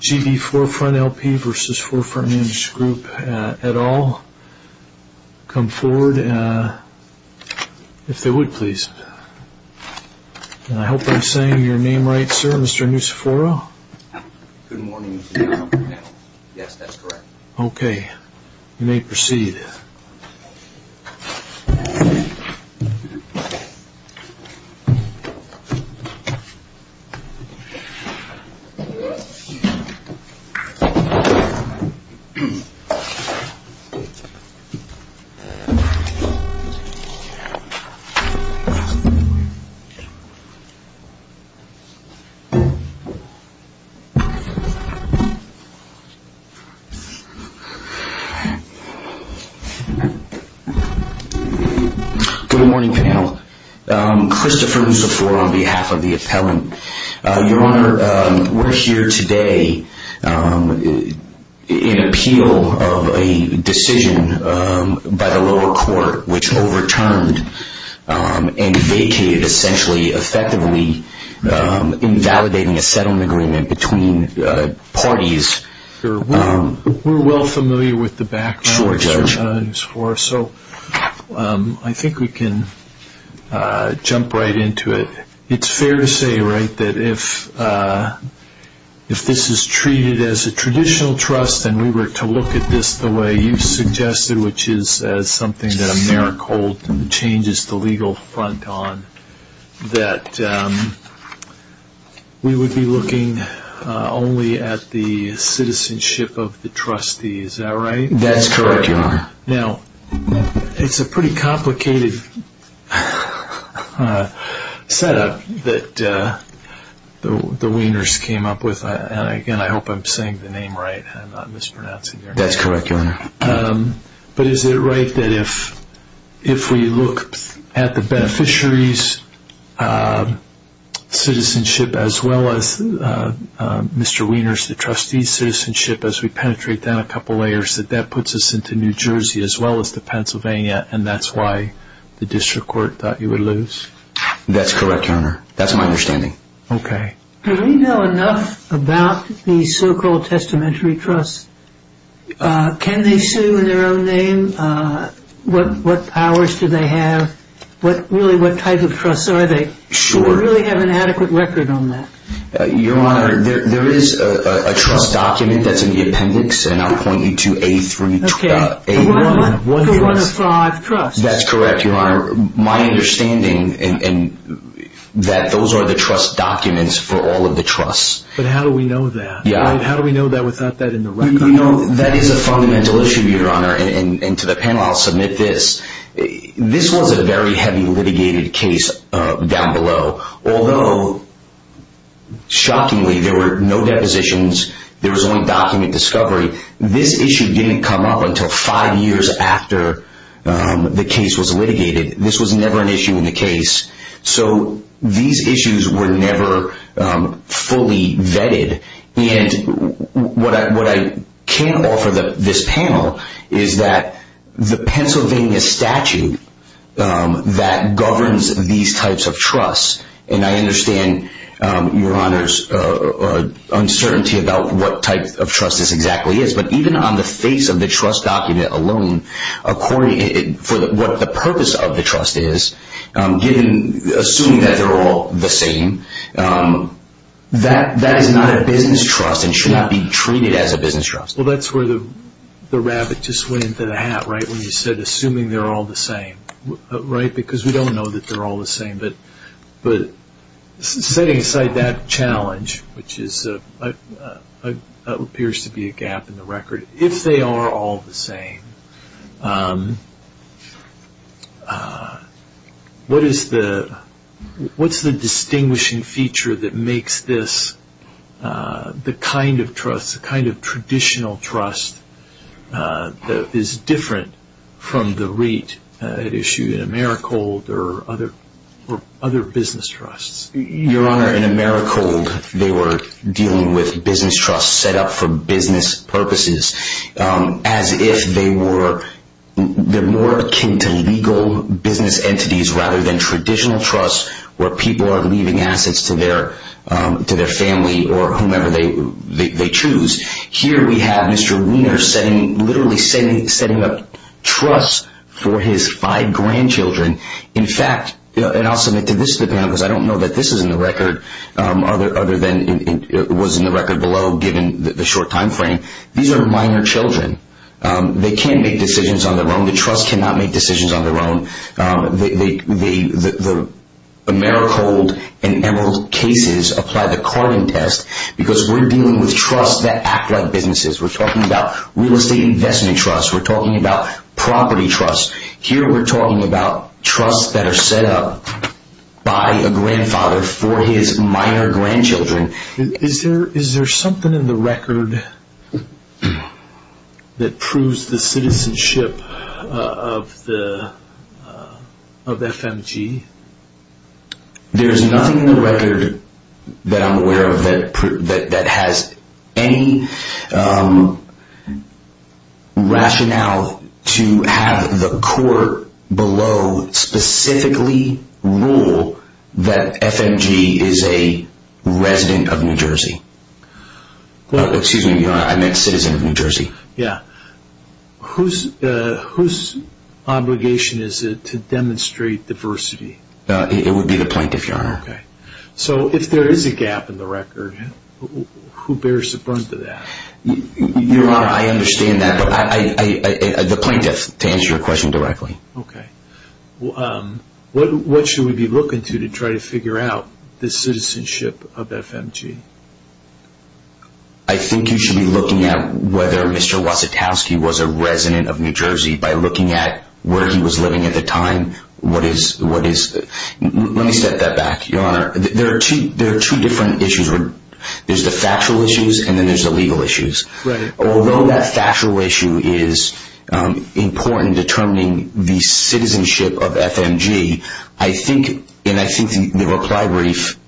G.B. Forefront L.P. v. Forefront Management Group, et al., come forward if they would please. I hope I'm saying your name right, sir. Mr. Nusiforo? Good morning, Mr. Chairman. Yes, that's correct. Okay, you may proceed. Good morning, panel. Christopher Nusiforo on behalf of the appellant. Your Honor, we're here today in appeal of a decision by the lower court which overturned and vacated, essentially, effectively, invalidating a settlement agreement between parties. We're well familiar with the background, Mr. Nusiforo, so I think we can jump right into it. It's fair to say, right, that if this is treated as a traditional trust and we were to look at this the way you suggested, which is something that AmeriCorps changes the legal front on, that we would be looking only at the citizenship of the trustee. Is that right? That's correct, Your Honor. Now, it's a pretty complicated setup that the Wieners came up with, and again, I hope I'm saying the name right. I'm not mispronouncing your name. That's correct, Your Honor. But is it right that if we look at the beneficiary's citizenship as well as Mr. Wieners, the trustee's citizenship, as we penetrate down a couple layers, that that puts us into New Jersey as well as to Pennsylvania, and that's why the district court thought you would lose? That's correct, Your Honor. That's my understanding. Okay. Do we know enough about these so-called testamentary trusts? Can they sue in their own name? What powers do they have? Really, what type of trusts are they? Sure. Do we really have an adequate record on that? Your Honor, there is a trust document that's in the appendix, and I'll point you to A-1. Okay. A-1 for one of five trusts. That's correct, Your Honor. My understanding that those are the trust documents for all of the trusts. But how do we know that? Yeah. How do we know that without that in the record? You know, that is a fundamental issue, Your Honor, and to the panel, I'll submit this. This was a very heavy litigated case down below. Although, shockingly, there were no depositions, there was only document discovery, this issue didn't come up until five years after the case was litigated. This was never an issue in the case. So these issues were never fully vetted. And what I can offer this panel is that the Pennsylvania statute that governs these types of trusts, and I understand, Your Honor's uncertainty about what type of trust this exactly is, but even on the face of the trust document alone, for what the purpose of the trust is, assuming that they're all the same, that is not a business trust and should not be treated as a business trust. Well, that's where the rabbit just went into the hat, right, when you said assuming they're all the same, right? Because we don't know that they're all the same. But setting aside that challenge, which appears to be a gap in the record, if they are all the same, what is the distinguishing feature that makes this the kind of trust, the kind of traditional trust that is different from the REIT issue in Americold or other business trusts? Your Honor, in Americold, they were dealing with business trusts set up for business purposes as if they were more akin to legal business entities rather than traditional trusts where people are leaving assets to their family or whomever they choose. Here we have Mr. Weiner literally setting up trusts for his five grandchildren. In fact, and I'll submit to this to the panel because I don't know that this is in the record other than it was in the record below given the short time frame. These are minor children. They can make decisions on their own. The trust cannot make decisions on their own. The Americold and Emerald cases apply the carbon test because we're dealing with trusts that act like businesses. We're talking about real estate investment trusts. We're talking about property trusts. Here we're talking about trusts that are set up by a grandfather for his minor grandchildren. Is there something in the record that proves the citizenship of FMG? There's nothing in the record that I'm aware of that has any rationale to have the court below specifically rule that FMG is a resident of New Jersey. Excuse me, Your Honor, I meant citizen of New Jersey. Yeah. Whose obligation is it to demonstrate diversity? It would be the plaintiff, Your Honor. Okay. So if there is a gap in the record, who bears the brunt of that? Your Honor, I understand that, but the plaintiff to answer your question directly. Okay. What should we be looking to to try to figure out the citizenship of FMG? I think you should be looking at whether Mr. Wasitowski was a resident of New Jersey by looking at where he was living at the time. Let me set that back, Your Honor. There are two different issues. There's the factual issues and then there's the legal issues. Right. Although that factual issue is important in determining the citizenship of FMG, I think the reply brief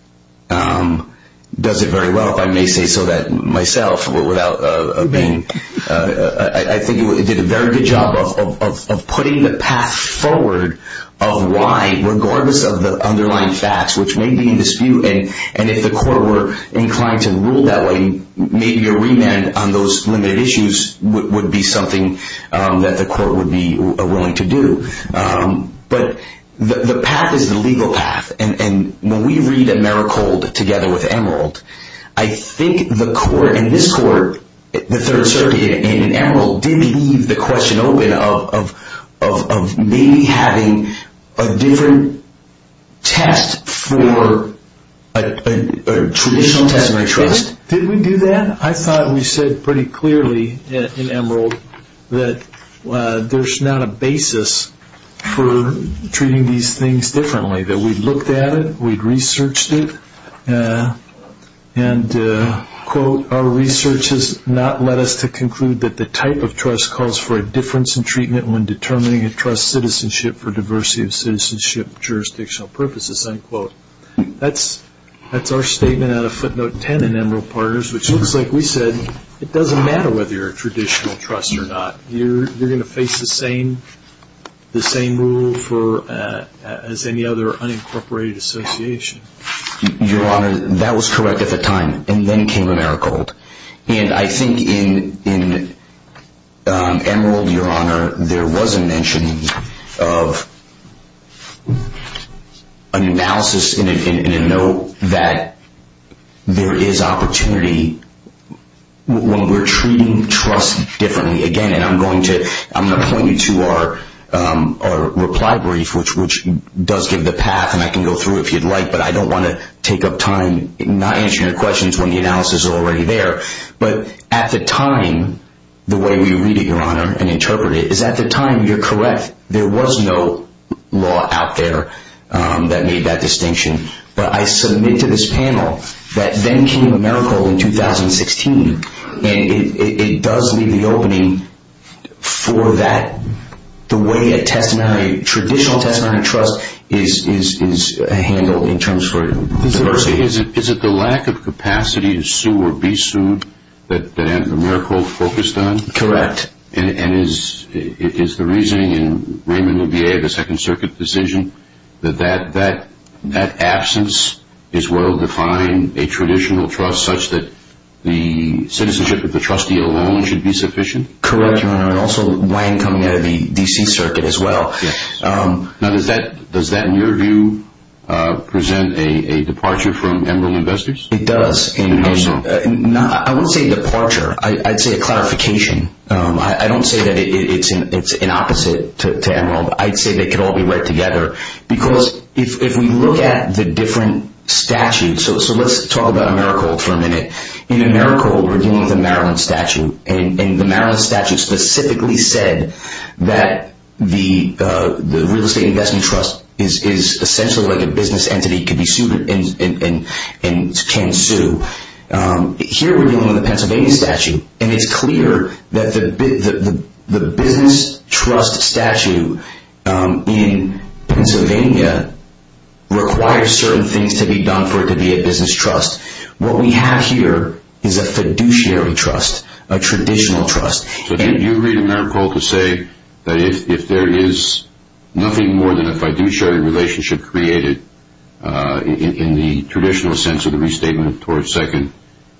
does it very well, if I may say so myself. I think it did a very good job of putting the path forward of why, regardless of the underlying facts, which may be in dispute, and if the court were inclined to rule that way, maybe a remand on those limited issues would be something that the court would be willing to do. But the path is the legal path, and when we read AmeriCold together with Emerald, I think the court in this court, the Third Circuit in Emerald, did leave the question open of maybe having a different test for a traditional citizenry trust. Did we do that? I thought we said pretty clearly in Emerald that there's not a basis for treating these things differently, that we looked at it, we researched it, and, quote, our research has not led us to conclude that the type of trust calls for a difference in treatment when determining a trust's citizenship for diversity of citizenship jurisdictional purposes, unquote. That's our statement out of footnote 10 in Emerald Partners, which looks like we said it doesn't matter whether you're a traditional trust or not. You're going to face the same rule as any other unincorporated association. Your Honor, that was correct at the time, and then came AmeriCold. And I think in Emerald, Your Honor, there was a mention of an analysis in a note that there is opportunity when we're treating trust differently. Again, and I'm going to point you to our reply brief, which does give the path, and I can go through it if you'd like, but I don't want to take up time not answering your questions when the analysis is already there. But at the time, the way we read it, Your Honor, and interpret it, is at the time, you're correct, there was no law out there that made that distinction. But I submit to this panel that then came AmeriCold in 2016, and it does leave the opening for that, the way a traditional testimony of trust is handled in terms for diversity. Is it the lack of capacity to sue or be sued that AmeriCold focused on? Correct. And is the reasoning in Raymond LaBier, the Second Circuit decision, that that absence is well-defined a traditional trust such that the citizenship of the trustee alone should be sufficient? Correct, Your Honor, and also Wayne coming out of the D.C. Circuit as well. Now, does that, in your view, present a departure from Emerald Investors? It does. And how so? I wouldn't say departure. I'd say a clarification. I don't say that it's an opposite to Emerald. I'd say they could all be read together because if we look at the different statutes, so let's talk about AmeriCold for a minute. In AmeriCold, we're dealing with a Maryland statute, and the Maryland statute specifically said that the real estate investment trust is essentially like a business entity, could be sued and can sue. Here we're dealing with a Pennsylvania statute, and it's clear that the business trust statute in Pennsylvania requires certain things to be done for it to be a business trust. What we have here is a fiduciary trust, a traditional trust. So you read AmeriCold to say that if there is nothing more than a fiduciary relationship created in the traditional sense of the restatement of Torrance Second,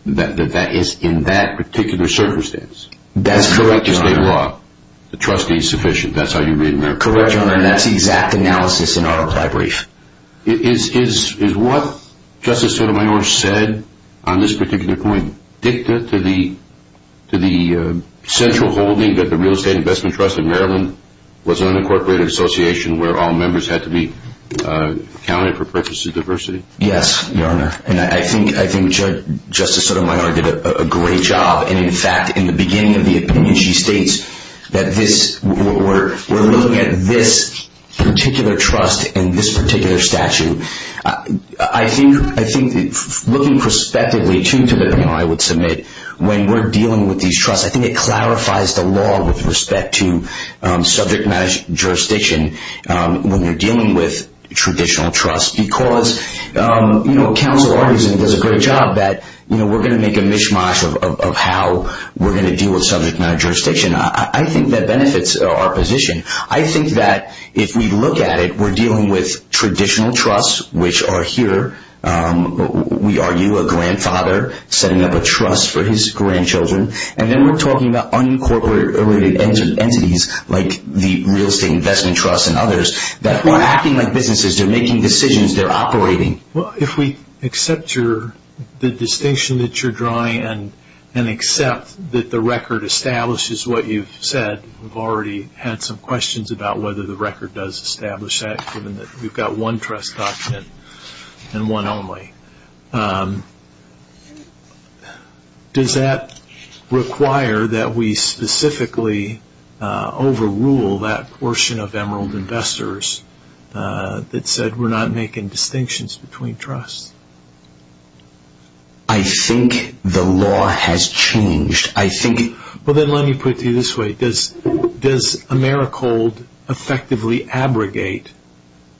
that is in that particular circumstance. That's correct, Your Honor. The trustee is sufficient. That's how you read AmeriCold. Correct, Your Honor, and that's the exact analysis in autopsy brief. Is what Justice Sotomayor said on this particular point dicta to the central holding that the real estate investment trust in Maryland was an unincorporated association where all members had to be accounted for purposes of diversity? Yes, Your Honor, and I think Justice Sotomayor did a great job, and in fact, in the beginning of the opinion, she states that we're looking at this particular trust and this particular statute. I think looking prospectively to the law, I would submit, when we're dealing with these trusts, I think it clarifies the law with respect to subject matter jurisdiction when you're dealing with traditional trusts because counsel argues and does a great job that we're going to make a mishmash of how we're going to deal with subject matter jurisdiction. I think that benefits our position. I think that if we look at it, we're dealing with traditional trusts, which are here. We argue a grandfather setting up a trust for his grandchildren, and then we're talking about unincorporated entities like the real estate investment trust and others that are acting like businesses. They're making decisions. They're operating. Well, if we accept the distinction that you're drawing and accept that the record establishes what you've said, we've already had some questions about whether the record does establish that, given that we've got one trust document and one only. Does that require that we specifically overrule that portion of Emerald Investors that said we're not making distinctions between trusts? I think the law has changed. I think... Well, then let me put it to you this way. Does Americold effectively abrogate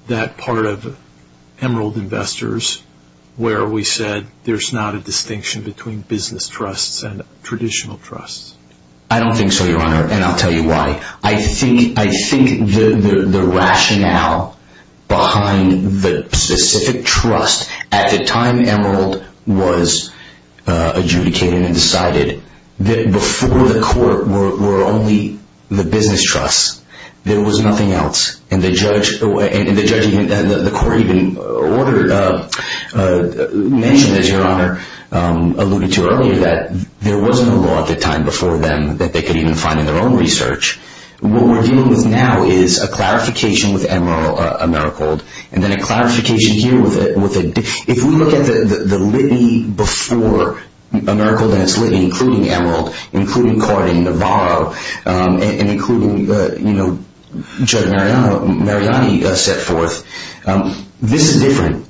that part of Emerald Investors where we said there's not a distinction between business trusts and traditional trusts? I don't think so, Your Honor, and I'll tell you why. I think the rationale behind the specific trust at the time Emerald was adjudicated and decided that before the court were only the business trusts. There was nothing else, and the court even mentioned, as Your Honor alluded to earlier, that there wasn't a law at the time before them that they could even find in their own research. What we're dealing with now is a clarification with Emerald, Americold, and then a clarification here with... If we look at the litany before Americold and its litany, including Emerald, including Cardin, Navarro, and including Judge Mariani set forth, this is different.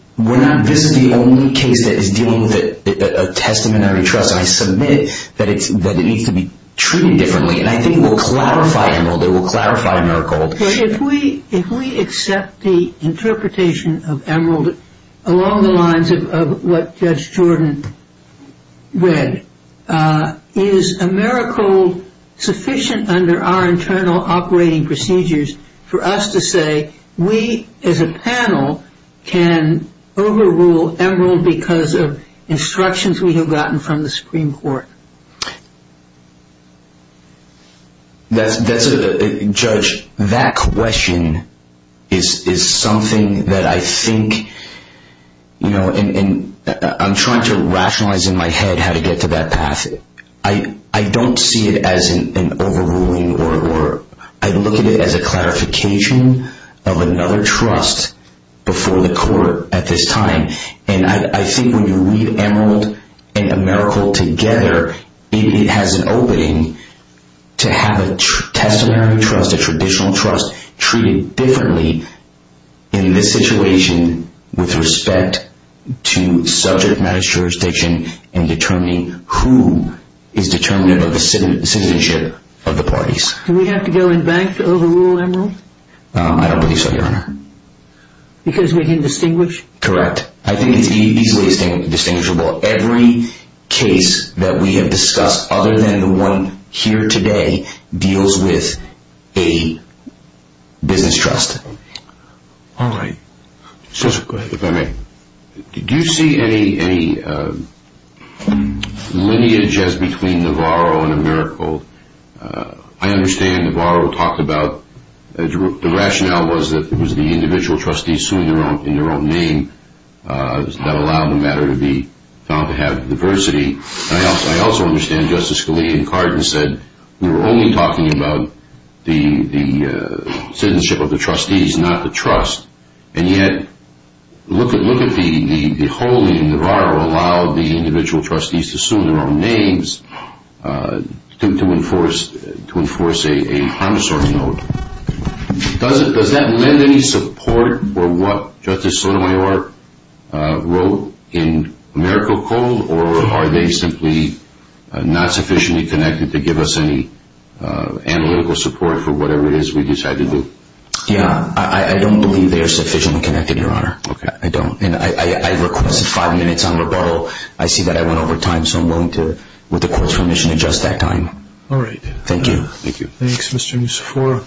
This is the only case that is dealing with a testamentary trust. I submit that it needs to be treated differently, and I think it will clarify Emerald. It will clarify Americold. If we accept the interpretation of Emerald along the lines of what Judge Jordan read, is Americold sufficient under our internal operating procedures for us to say that we as a panel can overrule Emerald because of instructions we have gotten from the Supreme Court? Judge, that question is something that I think... I'm trying to rationalize in my head how to get to that path. I don't see it as an overruling. I look at it as a clarification of another trust before the court at this time. I think when you read Emerald and Americold together, it has an opening to have a testamentary trust, a traditional trust, treated differently in this situation with respect to subject matter jurisdiction and determining who is determinative of the citizenship of the parties. Do we have to go in bank to overrule Emerald? I don't believe so, Your Honor. Because we can distinguish? Correct. I think it's easily distinguishable. Every case that we have discussed other than the one here today deals with a business trust. All right. Judge, go ahead. If I may. Did you see any lineage as between Navarro and Americold? I understand Navarro talked about the rationale was that it was the individual trustees who, in their own name, that allowed the matter to be found to have diversity. I also understand Justice Scalia and Cardin said we were only talking about the citizenship of the trustees, not the trust, and yet look at the whole thing. Navarro allowed the individual trustees to assume their own names to enforce a harm assortment. Does that lend any support for what Justice Sotomayor wrote in Americold, or are they simply not sufficiently connected to give us any analytical support for whatever it is we decide to do? Yeah, I don't believe they are sufficiently connected, Your Honor. Okay. I don't, and I requested five minutes on rebuttal. I see that I went over time, so I'm willing to, with the Court's permission, adjust that time. All right. Thank you. Thank you. Thanks, Mr. Mussoforo.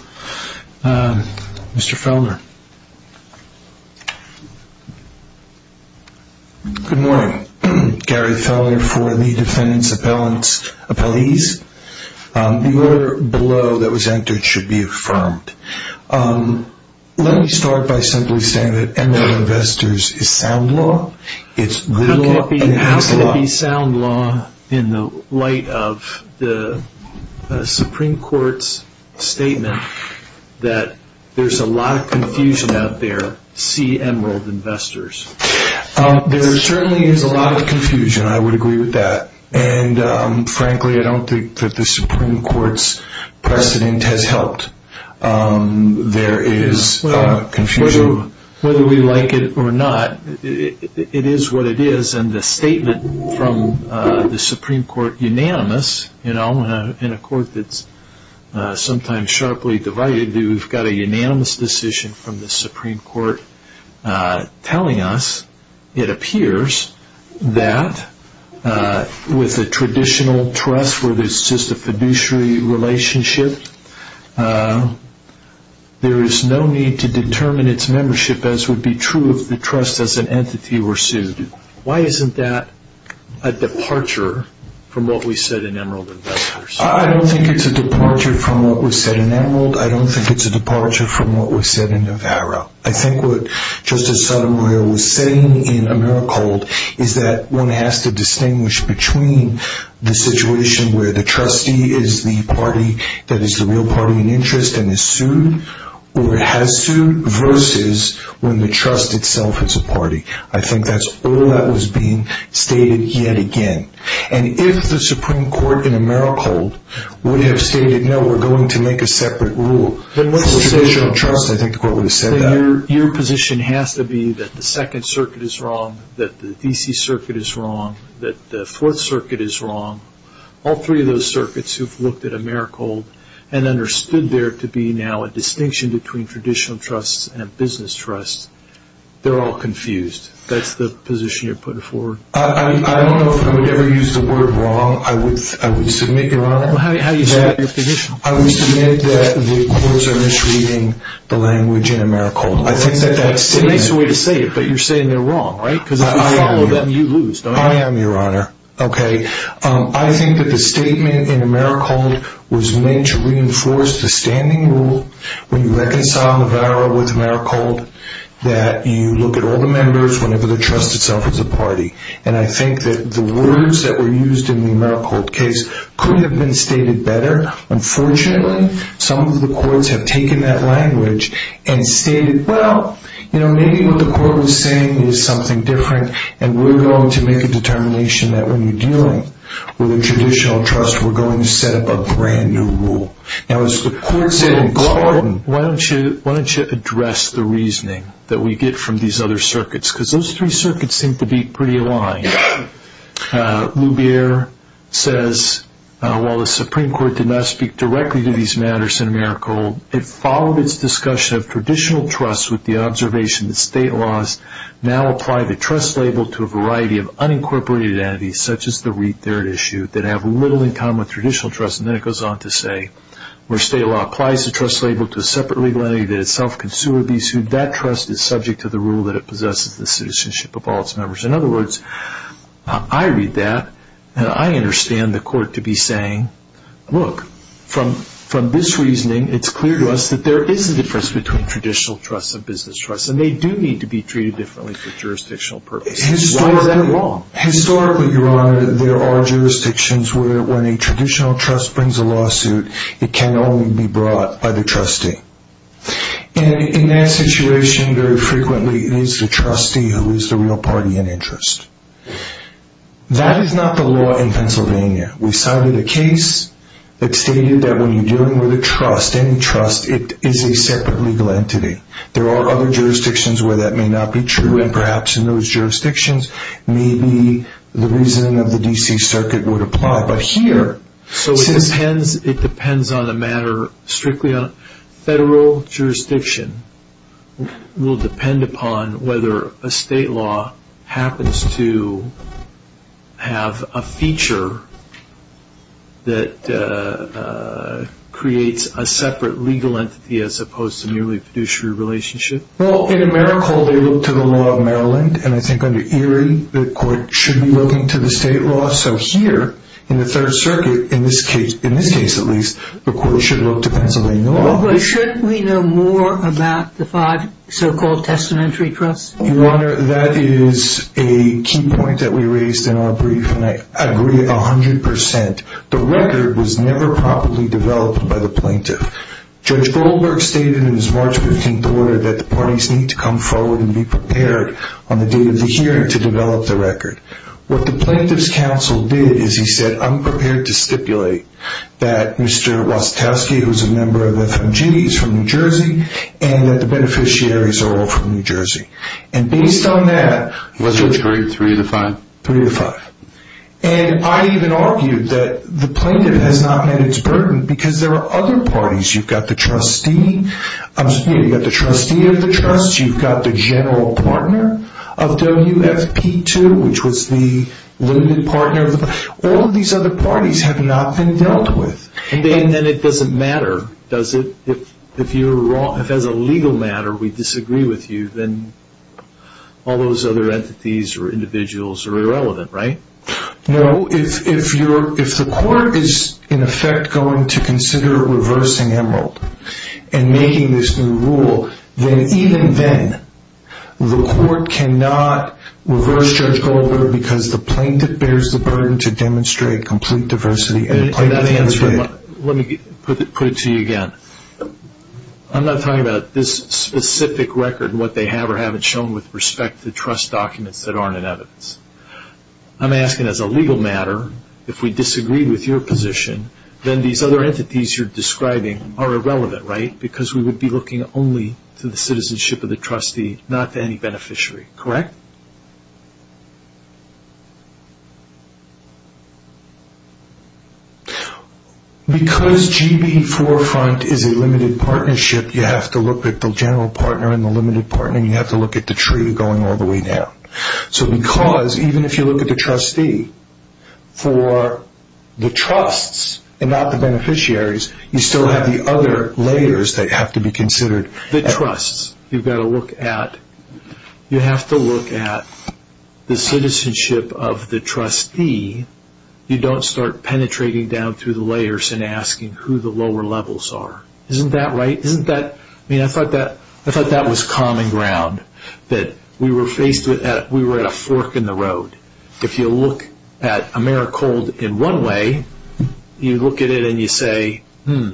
Mr. Fellner. Good morning. Gary Fellner for the defendants' appellants' appellees. The order below that was entered should be affirmed. Let me start by simply saying that MDO Investors is sound law. How can it be sound law in the light of the Supreme Court's statement that there's a lot of confusion out there? See Emerald Investors. There certainly is a lot of confusion. I would agree with that. And, frankly, I don't think that the Supreme Court's precedent has helped. There is confusion. So whether we like it or not, it is what it is. And the statement from the Supreme Court, unanimous, you know, in a court that's sometimes sharply divided, we've got a unanimous decision from the Supreme Court telling us, it appears, that with the traditional trust where there's just a fiduciary relationship, there is no need to determine its membership as would be true if the trust as an entity were sued. Why isn't that a departure from what we said in Emerald Investors? I don't think it's a departure from what was said in Emerald. I don't think it's a departure from what was said in Navarro. I think what Justice Sotomayor was saying in Emerald is that one has to distinguish between the situation where the trustee is the party that is the real party in interest and is sued or has sued versus when the trust itself is a party. I think that's all that was being stated yet again. And if the Supreme Court in Emerald would have stated, no, we're going to make a separate rule for traditional trust, I think the court would have said that. Your position has to be that the Second Circuit is wrong, that the D.C. Circuit is wrong, that the Fourth Circuit is wrong. All three of those circuits who've looked at Emerald and understood there to be now a distinction between traditional trusts and a business trust, they're all confused. That's the position you're putting forward? I don't know if I would ever use the word wrong. I would submit, Your Honor, that the courts are misreading the language in Emerald. It makes a way to say it, but you're saying they're wrong, right? Because if you follow them, you lose, don't you? I am, Your Honor. I think that the statement in Emerald was meant to reinforce the standing rule when you reconcile Navarro with Emerald, that you look at all the members whenever the trust itself is a party. And I think that the words that were used in the Emerald case could have been stated better. Unfortunately, some of the courts have taken that language and stated, well, maybe what the court was saying is something different, and we're going to make a determination that when you're dealing with a traditional trust, we're going to set up a brand-new rule. Now, as the court said in Gordon, why don't you address the reasoning that we get from these other circuits? Because those three circuits seem to be pretty aligned. Lubier says, while the Supreme Court did not speak directly to these matters in Emerald, it followed its discussion of traditional trust with the observation that state laws now apply the trust label to a variety of unincorporated entities, such as the REIT there at issue, that have little in common with traditional trust. And then it goes on to say, where state law applies the trust label to a separate legal entity that itself can sue or be sued, that trust is subject to the rule that it possesses the citizenship of all its members. In other words, I read that, and I understand the court to be saying, look, from this reasoning, it's clear to us that there is a difference between traditional trust and business trust, and they do need to be treated differently for jurisdictional purposes. Why is that wrong? Historically, Your Honor, there are jurisdictions where when a traditional trust brings a lawsuit, it can only be brought by the trustee. And in that situation, very frequently, it is the trustee who is the real party in interest. That is not the law in Pennsylvania. We've cited a case that stated that when you're dealing with a trust, any trust, it is a separate legal entity. There are other jurisdictions where that may not be true, and perhaps in those jurisdictions, maybe the reasoning of the D.C. Circuit would apply. So it depends on a matter strictly on federal jurisdiction. It will depend upon whether a state law happens to have a feature that creates a separate legal entity as opposed to merely a fiduciary relationship. Well, in Americal, they look to the law of Maryland, and I think under Erie, the court should be looking to the state law. So here, in the Third Circuit, in this case at least, the court should look to Pennsylvania law. But shouldn't we know more about the five so-called testamentary trusts? Your Honor, that is a key point that we raised in our brief, and I agree 100%. The record was never properly developed by the plaintiff. Judge Goldberg stated in his March 15th order that the parties need to come forward and be prepared on the date of the hearing to develop the record. What the plaintiff's counsel did is he said, I'm prepared to stipulate that Mr. Wastowski, who is a member of FMGT, is from New Jersey, and that the beneficiaries are all from New Jersey. And based on that, was it? Three to five. Three to five. And I even argued that the plaintiff has not met its burden because there are other parties. You've got the trustee of the trust. You've got the general partner of WFP2, which was the limited partner. All of these other parties have not been dealt with. Then it doesn't matter, does it? If as a legal matter we disagree with you, then all those other entities or individuals are irrelevant, right? No. If the court is, in effect, going to consider reversing Emerald and making this new rule, then even then the court cannot reverse Judge Goldberg because the plaintiff bears the burden to demonstrate complete diversity. Let me put it to you again. I'm not talking about this specific record and what they have or haven't shown with respect to trust documents that aren't in evidence. I'm asking as a legal matter, if we disagree with your position, then these other entities you're describing are irrelevant, right? Because we would be looking only to the citizenship of the trustee, not to any beneficiary, correct? Because GB Forefront is a limited partnership, you have to look at the general partner and the limited partner, and you have to look at the tree going all the way down. Because even if you look at the trustee, for the trusts and not the beneficiaries, you still have the other layers that have to be considered. The trusts, you have to look at the citizenship of the trustee. You don't start penetrating down through the layers and asking who the lower levels are. Isn't that right? I thought that was common ground, that we were at a fork in the road. If you look at Americold in one way, you look at it and you say, hmm,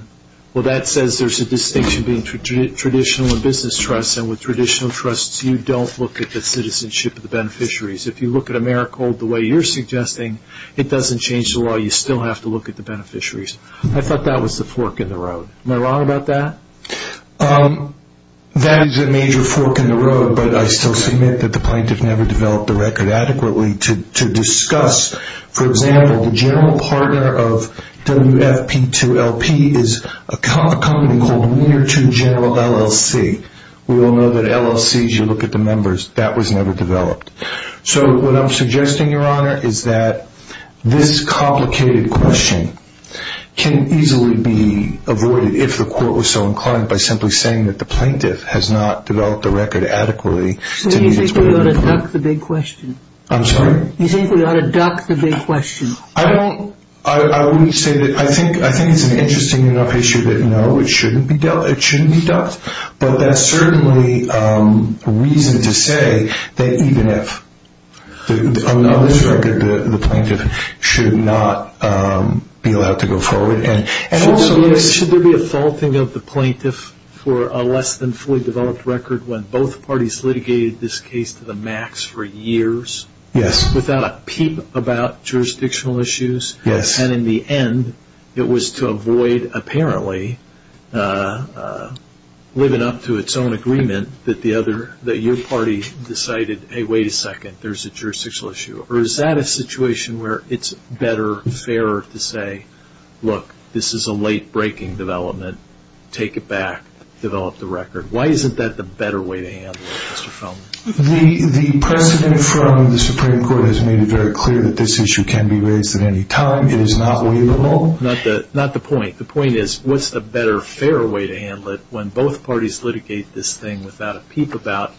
well that says there's a distinction between traditional and business trusts, and with traditional trusts, you don't look at the citizenship of the beneficiaries. If you look at Americold the way you're suggesting, it doesn't change the law. You still have to look at the beneficiaries. I thought that was the fork in the road. Am I wrong about that? That is a major fork in the road, but I still submit that the plaintiff never developed the record adequately to discuss. For example, the general partner of WFP2LP is a company called Wiener 2 General LLC. We all know that LLCs, you look at the numbers, that was never developed. So what I'm suggesting, Your Honor, is that this complicated question can easily be avoided, if the court was so inclined, by simply saying that the plaintiff has not developed the record adequately. So you think we ought to duck the big question? I'm sorry? You think we ought to duck the big question? I wouldn't say that. I think it's an interesting enough issue that, no, it shouldn't be ducked, but that's certainly reason to say that even if the plaintiff should not be allowed to go forward. Should there be a faulting of the plaintiff for a less than fully developed record when both parties litigated this case to the max for years without a peep about jurisdictional issues? Yes. And in the end, it was to avoid apparently living up to its own agreement that your party decided, hey, wait a second, there's a jurisdictional issue. Or is that a situation where it's better, fairer to say, look, this is a late-breaking development. Take it back. Develop the record. Why isn't that the better way to handle it, Mr. Feldman? The precedent from the Supreme Court has made it very clear that this issue can be raised at any time. It is not waivable. Not the point. The point is, what's the better, fairer way to handle it when both parties litigate this thing without a peep about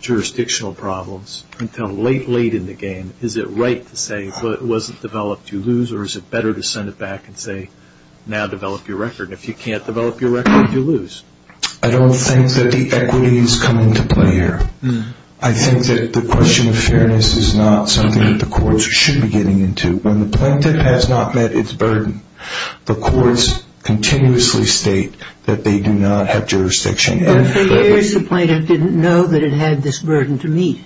jurisdictional problems until late, late in the game? Is it right to say, well, it wasn't developed. You lose. Or is it better to send it back and say, now develop your record. If you can't develop your record, you lose. I don't think that the equity is coming to play here. I think that the question of fairness is not something that the courts should be getting into. When the plaintiff has not met its burden, the courts continuously state that they do not have jurisdiction. For years the plaintiff didn't know that it had this burden to meet.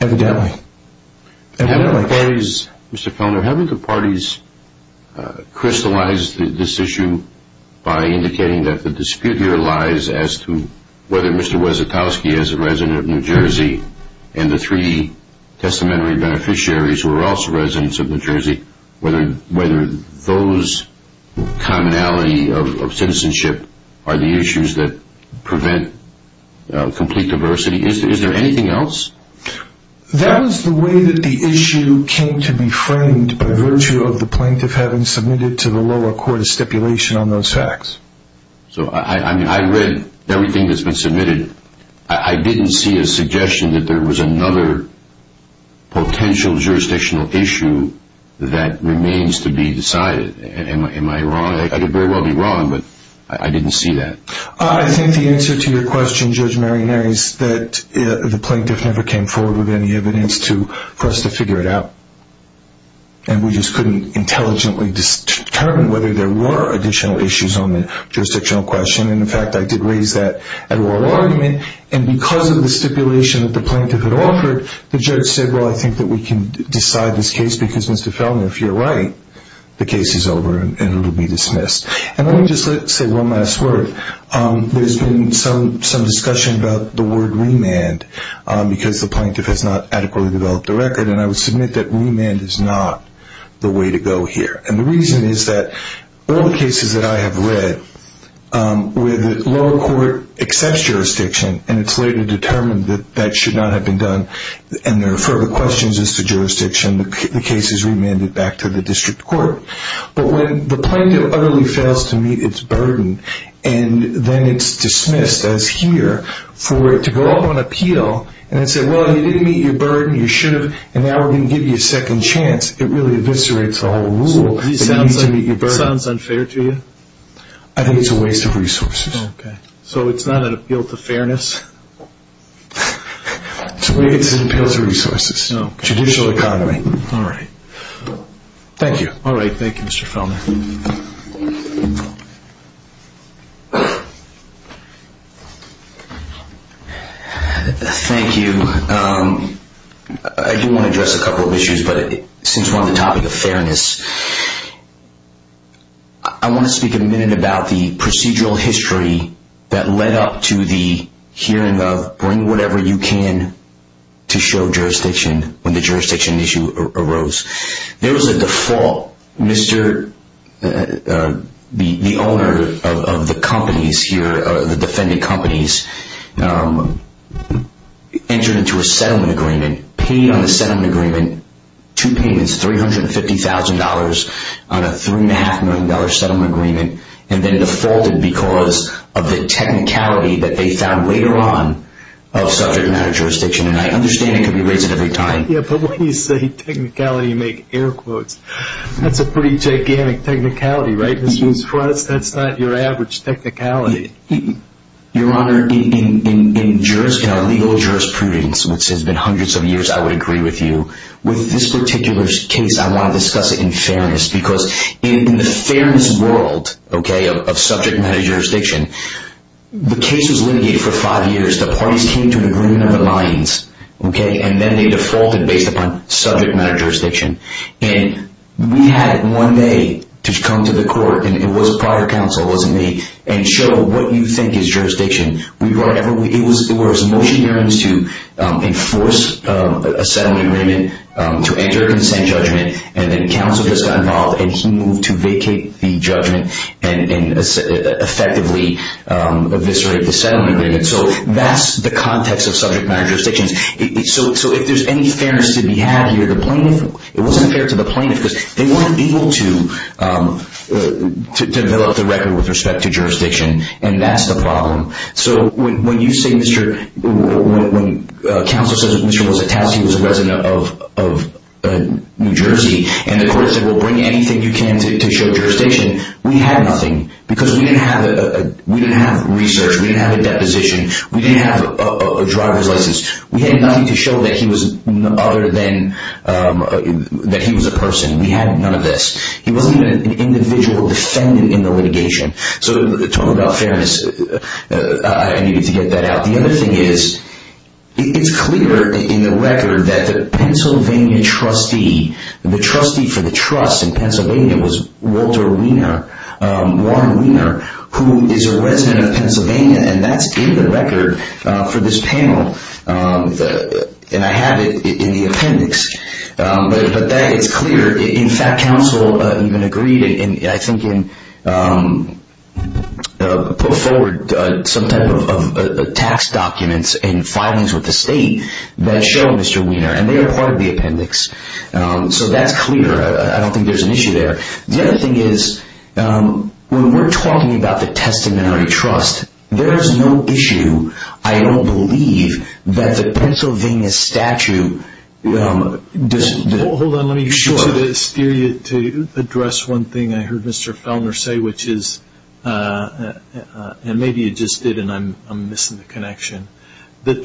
Evidently. Mr. Kellner, haven't the parties crystallized this issue by indicating that the dispute here lies as to whether Mr. Wiesentauski, as a resident of New Jersey, and the three testamentary beneficiaries who are also residents of New Jersey, whether those commonality of citizenship are the issues that prevent complete diversity? Is there anything else? That was the way that the issue came to be framed by virtue of the plaintiff having submitted to the lower court a stipulation on those facts. I read everything that's been submitted. I didn't see a suggestion that there was another potential jurisdictional issue that remains to be decided. Am I wrong? I could very well be wrong, but I didn't see that. I think the answer to your question, Judge Marinari, is that the plaintiff never came forward with any evidence for us to figure it out. We just couldn't intelligently determine whether there were additional issues on the jurisdictional question. In fact, I did raise that at oral argument, and because of the stipulation that the plaintiff had offered, the judge said, well, I think that we can decide this case because, Mr. Fellner, if you're right, the case is over and it will be dismissed. Let me just say one last word. There's been some discussion about the word remand because the plaintiff has not adequately developed the record, and I would submit that remand is not the way to go here. And the reason is that all the cases that I have read where the lower court accepts jurisdiction and it's later determined that that should not have been done and there are further questions as to jurisdiction, the case is remanded back to the district court. But when the plaintiff utterly fails to meet its burden, and then it's dismissed as here for it to go up on appeal and say, well, you didn't meet your burden, you should have, and now we're going to give you a second chance, it really eviscerates the whole rule that you need to meet your burden. So it sounds unfair to you? I think it's a waste of resources. So it's not an appeal to fairness? It's an appeal to resources, judicial economy. All right. Thank you. All right, thank you, Mr. Fellner. Thank you. I do want to address a couple of issues, but since we're on the topic of fairness, I want to speak a minute about the procedural history that led up to the hearing of bring whatever you can to show jurisdiction when the jurisdiction issue arose. There was a default. The owner of the companies here, the defending companies, entered into a settlement agreement, paid on the settlement agreement two payments, $350,000 on a $3.5 million settlement agreement, and then defaulted because of the technicality that they found later on of subject matter jurisdiction. And I understand it can be raised at any time. Yeah, but when you say technicality, you make air quotes. That's a pretty gigantic technicality, right? For us, that's not your average technicality. Your Honor, in legal jurisprudence, which has been hundreds of years, I would agree with you. With this particular case, I want to discuss it in fairness because in the fairness world, okay, of subject matter jurisdiction, the case was litigated for five years. The parties came to an agreement on the lines, okay, and then they defaulted based upon subject matter jurisdiction. And we had one day to come to the court, and it was a prior counsel, it wasn't me, and show what you think is jurisdiction. It was motion hearings to enforce a settlement agreement to enter a consent judgment, and then counsel just got involved, and he moved to vacate the judgment and effectively eviscerate the settlement agreement. So that's the context of subject matter jurisdictions. So if there's any fairness to be had here, the plaintiff, it wasn't fair to the plaintiff because they weren't able to develop the record with respect to jurisdiction, and that's the problem. So when you say, Mr. – when counsel says that Mr. Mositowski was a resident of New Jersey and the court said, well, bring anything you can to show jurisdiction, we had nothing because we didn't have research, we didn't have a deposition, we didn't have a driver's license. We had nothing to show that he was other than – that he was a person. We had none of this. He wasn't even an individual defendant in the litigation. So talking about fairness, I needed to get that out. The other thing is, it's clear in the record that the Pennsylvania trustee, the trustee for the trust in Pennsylvania was Walter Wiener, Warren Wiener, who is a resident of Pennsylvania, and that's in the record for this panel. And I have it in the appendix. But that is clear. In fact, counsel even agreed and I think put forward some type of tax documents and filings with the state that show Mr. Wiener. And they are part of the appendix. So that's clear. I don't think there's an issue there. The other thing is, when we're talking about the testamentary trust, there is no issue, I don't believe, that the Pennsylvania statute – Hold on, let me get you to the exterior to address one thing I heard Mr. Fellner say, which is, and maybe you just did and I'm missing the connection, that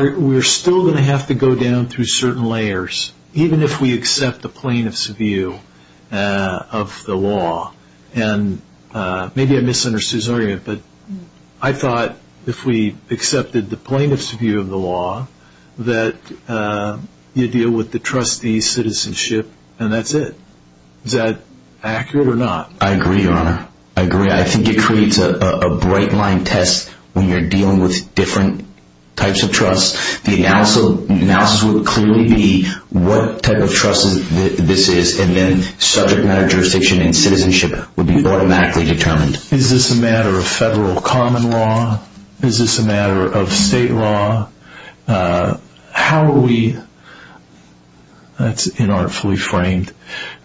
we're still going to have to go down through certain layers, even if we accept the plaintiff's view of the law. And maybe I misunderstood his argument, but I thought if we accepted the plaintiff's view of the law, that you deal with the trustee's citizenship and that's it. Is that accurate or not? I agree, Your Honor. I agree. I think it creates a bright line test when you're dealing with different types of trust. The analysis would clearly be what type of trust this is and then subject matter jurisdiction and citizenship would be automatically determined. Is this a matter of federal common law? Is this a matter of state law? How are we – that's inartfully framed.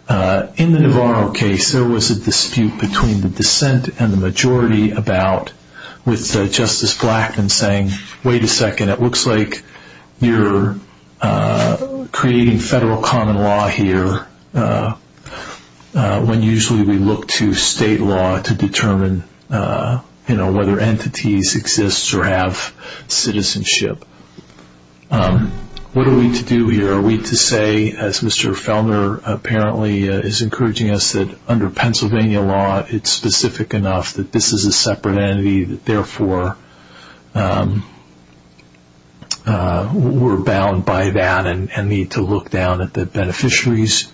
In the Navarro case, there was a dispute between the dissent and the majority with Justice Blackman saying, wait a second, it looks like you're creating federal common law here when usually we look to state law to determine whether entities exist or have citizenship. What are we to do here? Are we to say, as Mr. Felner apparently is encouraging us, that under Pennsylvania law it's specific enough that this is a separate entity, that therefore we're bound by that and need to look down at the beneficiaries?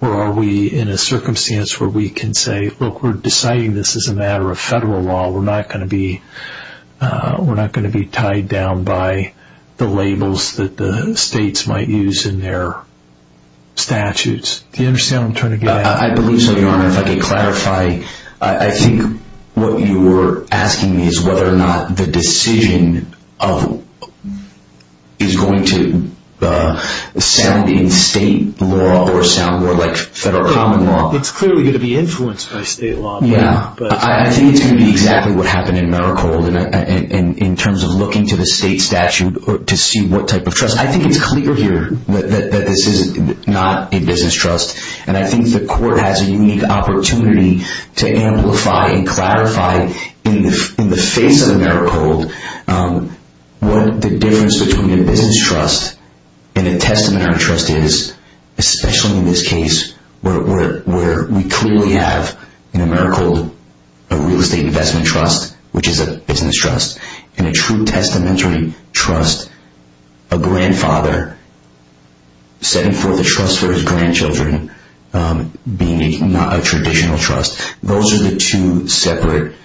Or are we in a circumstance where we can say, look, we're deciding this is a matter of federal law. We're not going to be tied down by the labels that the states might use in their statutes. Do you understand what I'm trying to get at? I believe so, Your Honor. If I can clarify, I think what you're asking is whether or not the decision is going to sound in state law or sound more like federal common law. It's clearly going to be influenced by state law. I think it's going to be exactly what happened in Mericold in terms of looking to the state statute to see what type of trust. I think it's clear here that this is not a business trust, and I think the court has a unique opportunity to amplify and clarify in the face of Mericold what the difference between a business trust and a testamentary trust is, especially in this case where we clearly have in Mericold a real estate investment trust, which is a business trust, and a true testamentary trust, a grandfather setting forth a trust for his grandchildren being not a traditional trust. Those are the two separate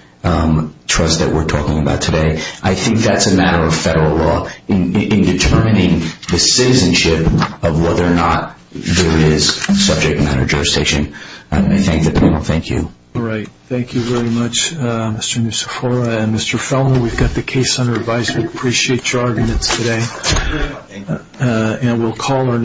trusts that we're talking about today. I think that's a matter of federal law in determining the citizenship of whether or not there is subject matter jurisdiction. I thank the panel. Thank you. All right. Thank you very much, Mr. Nussefora. Mr. Fellner, we've got the case under advice. We appreciate your arguments today. Thank you.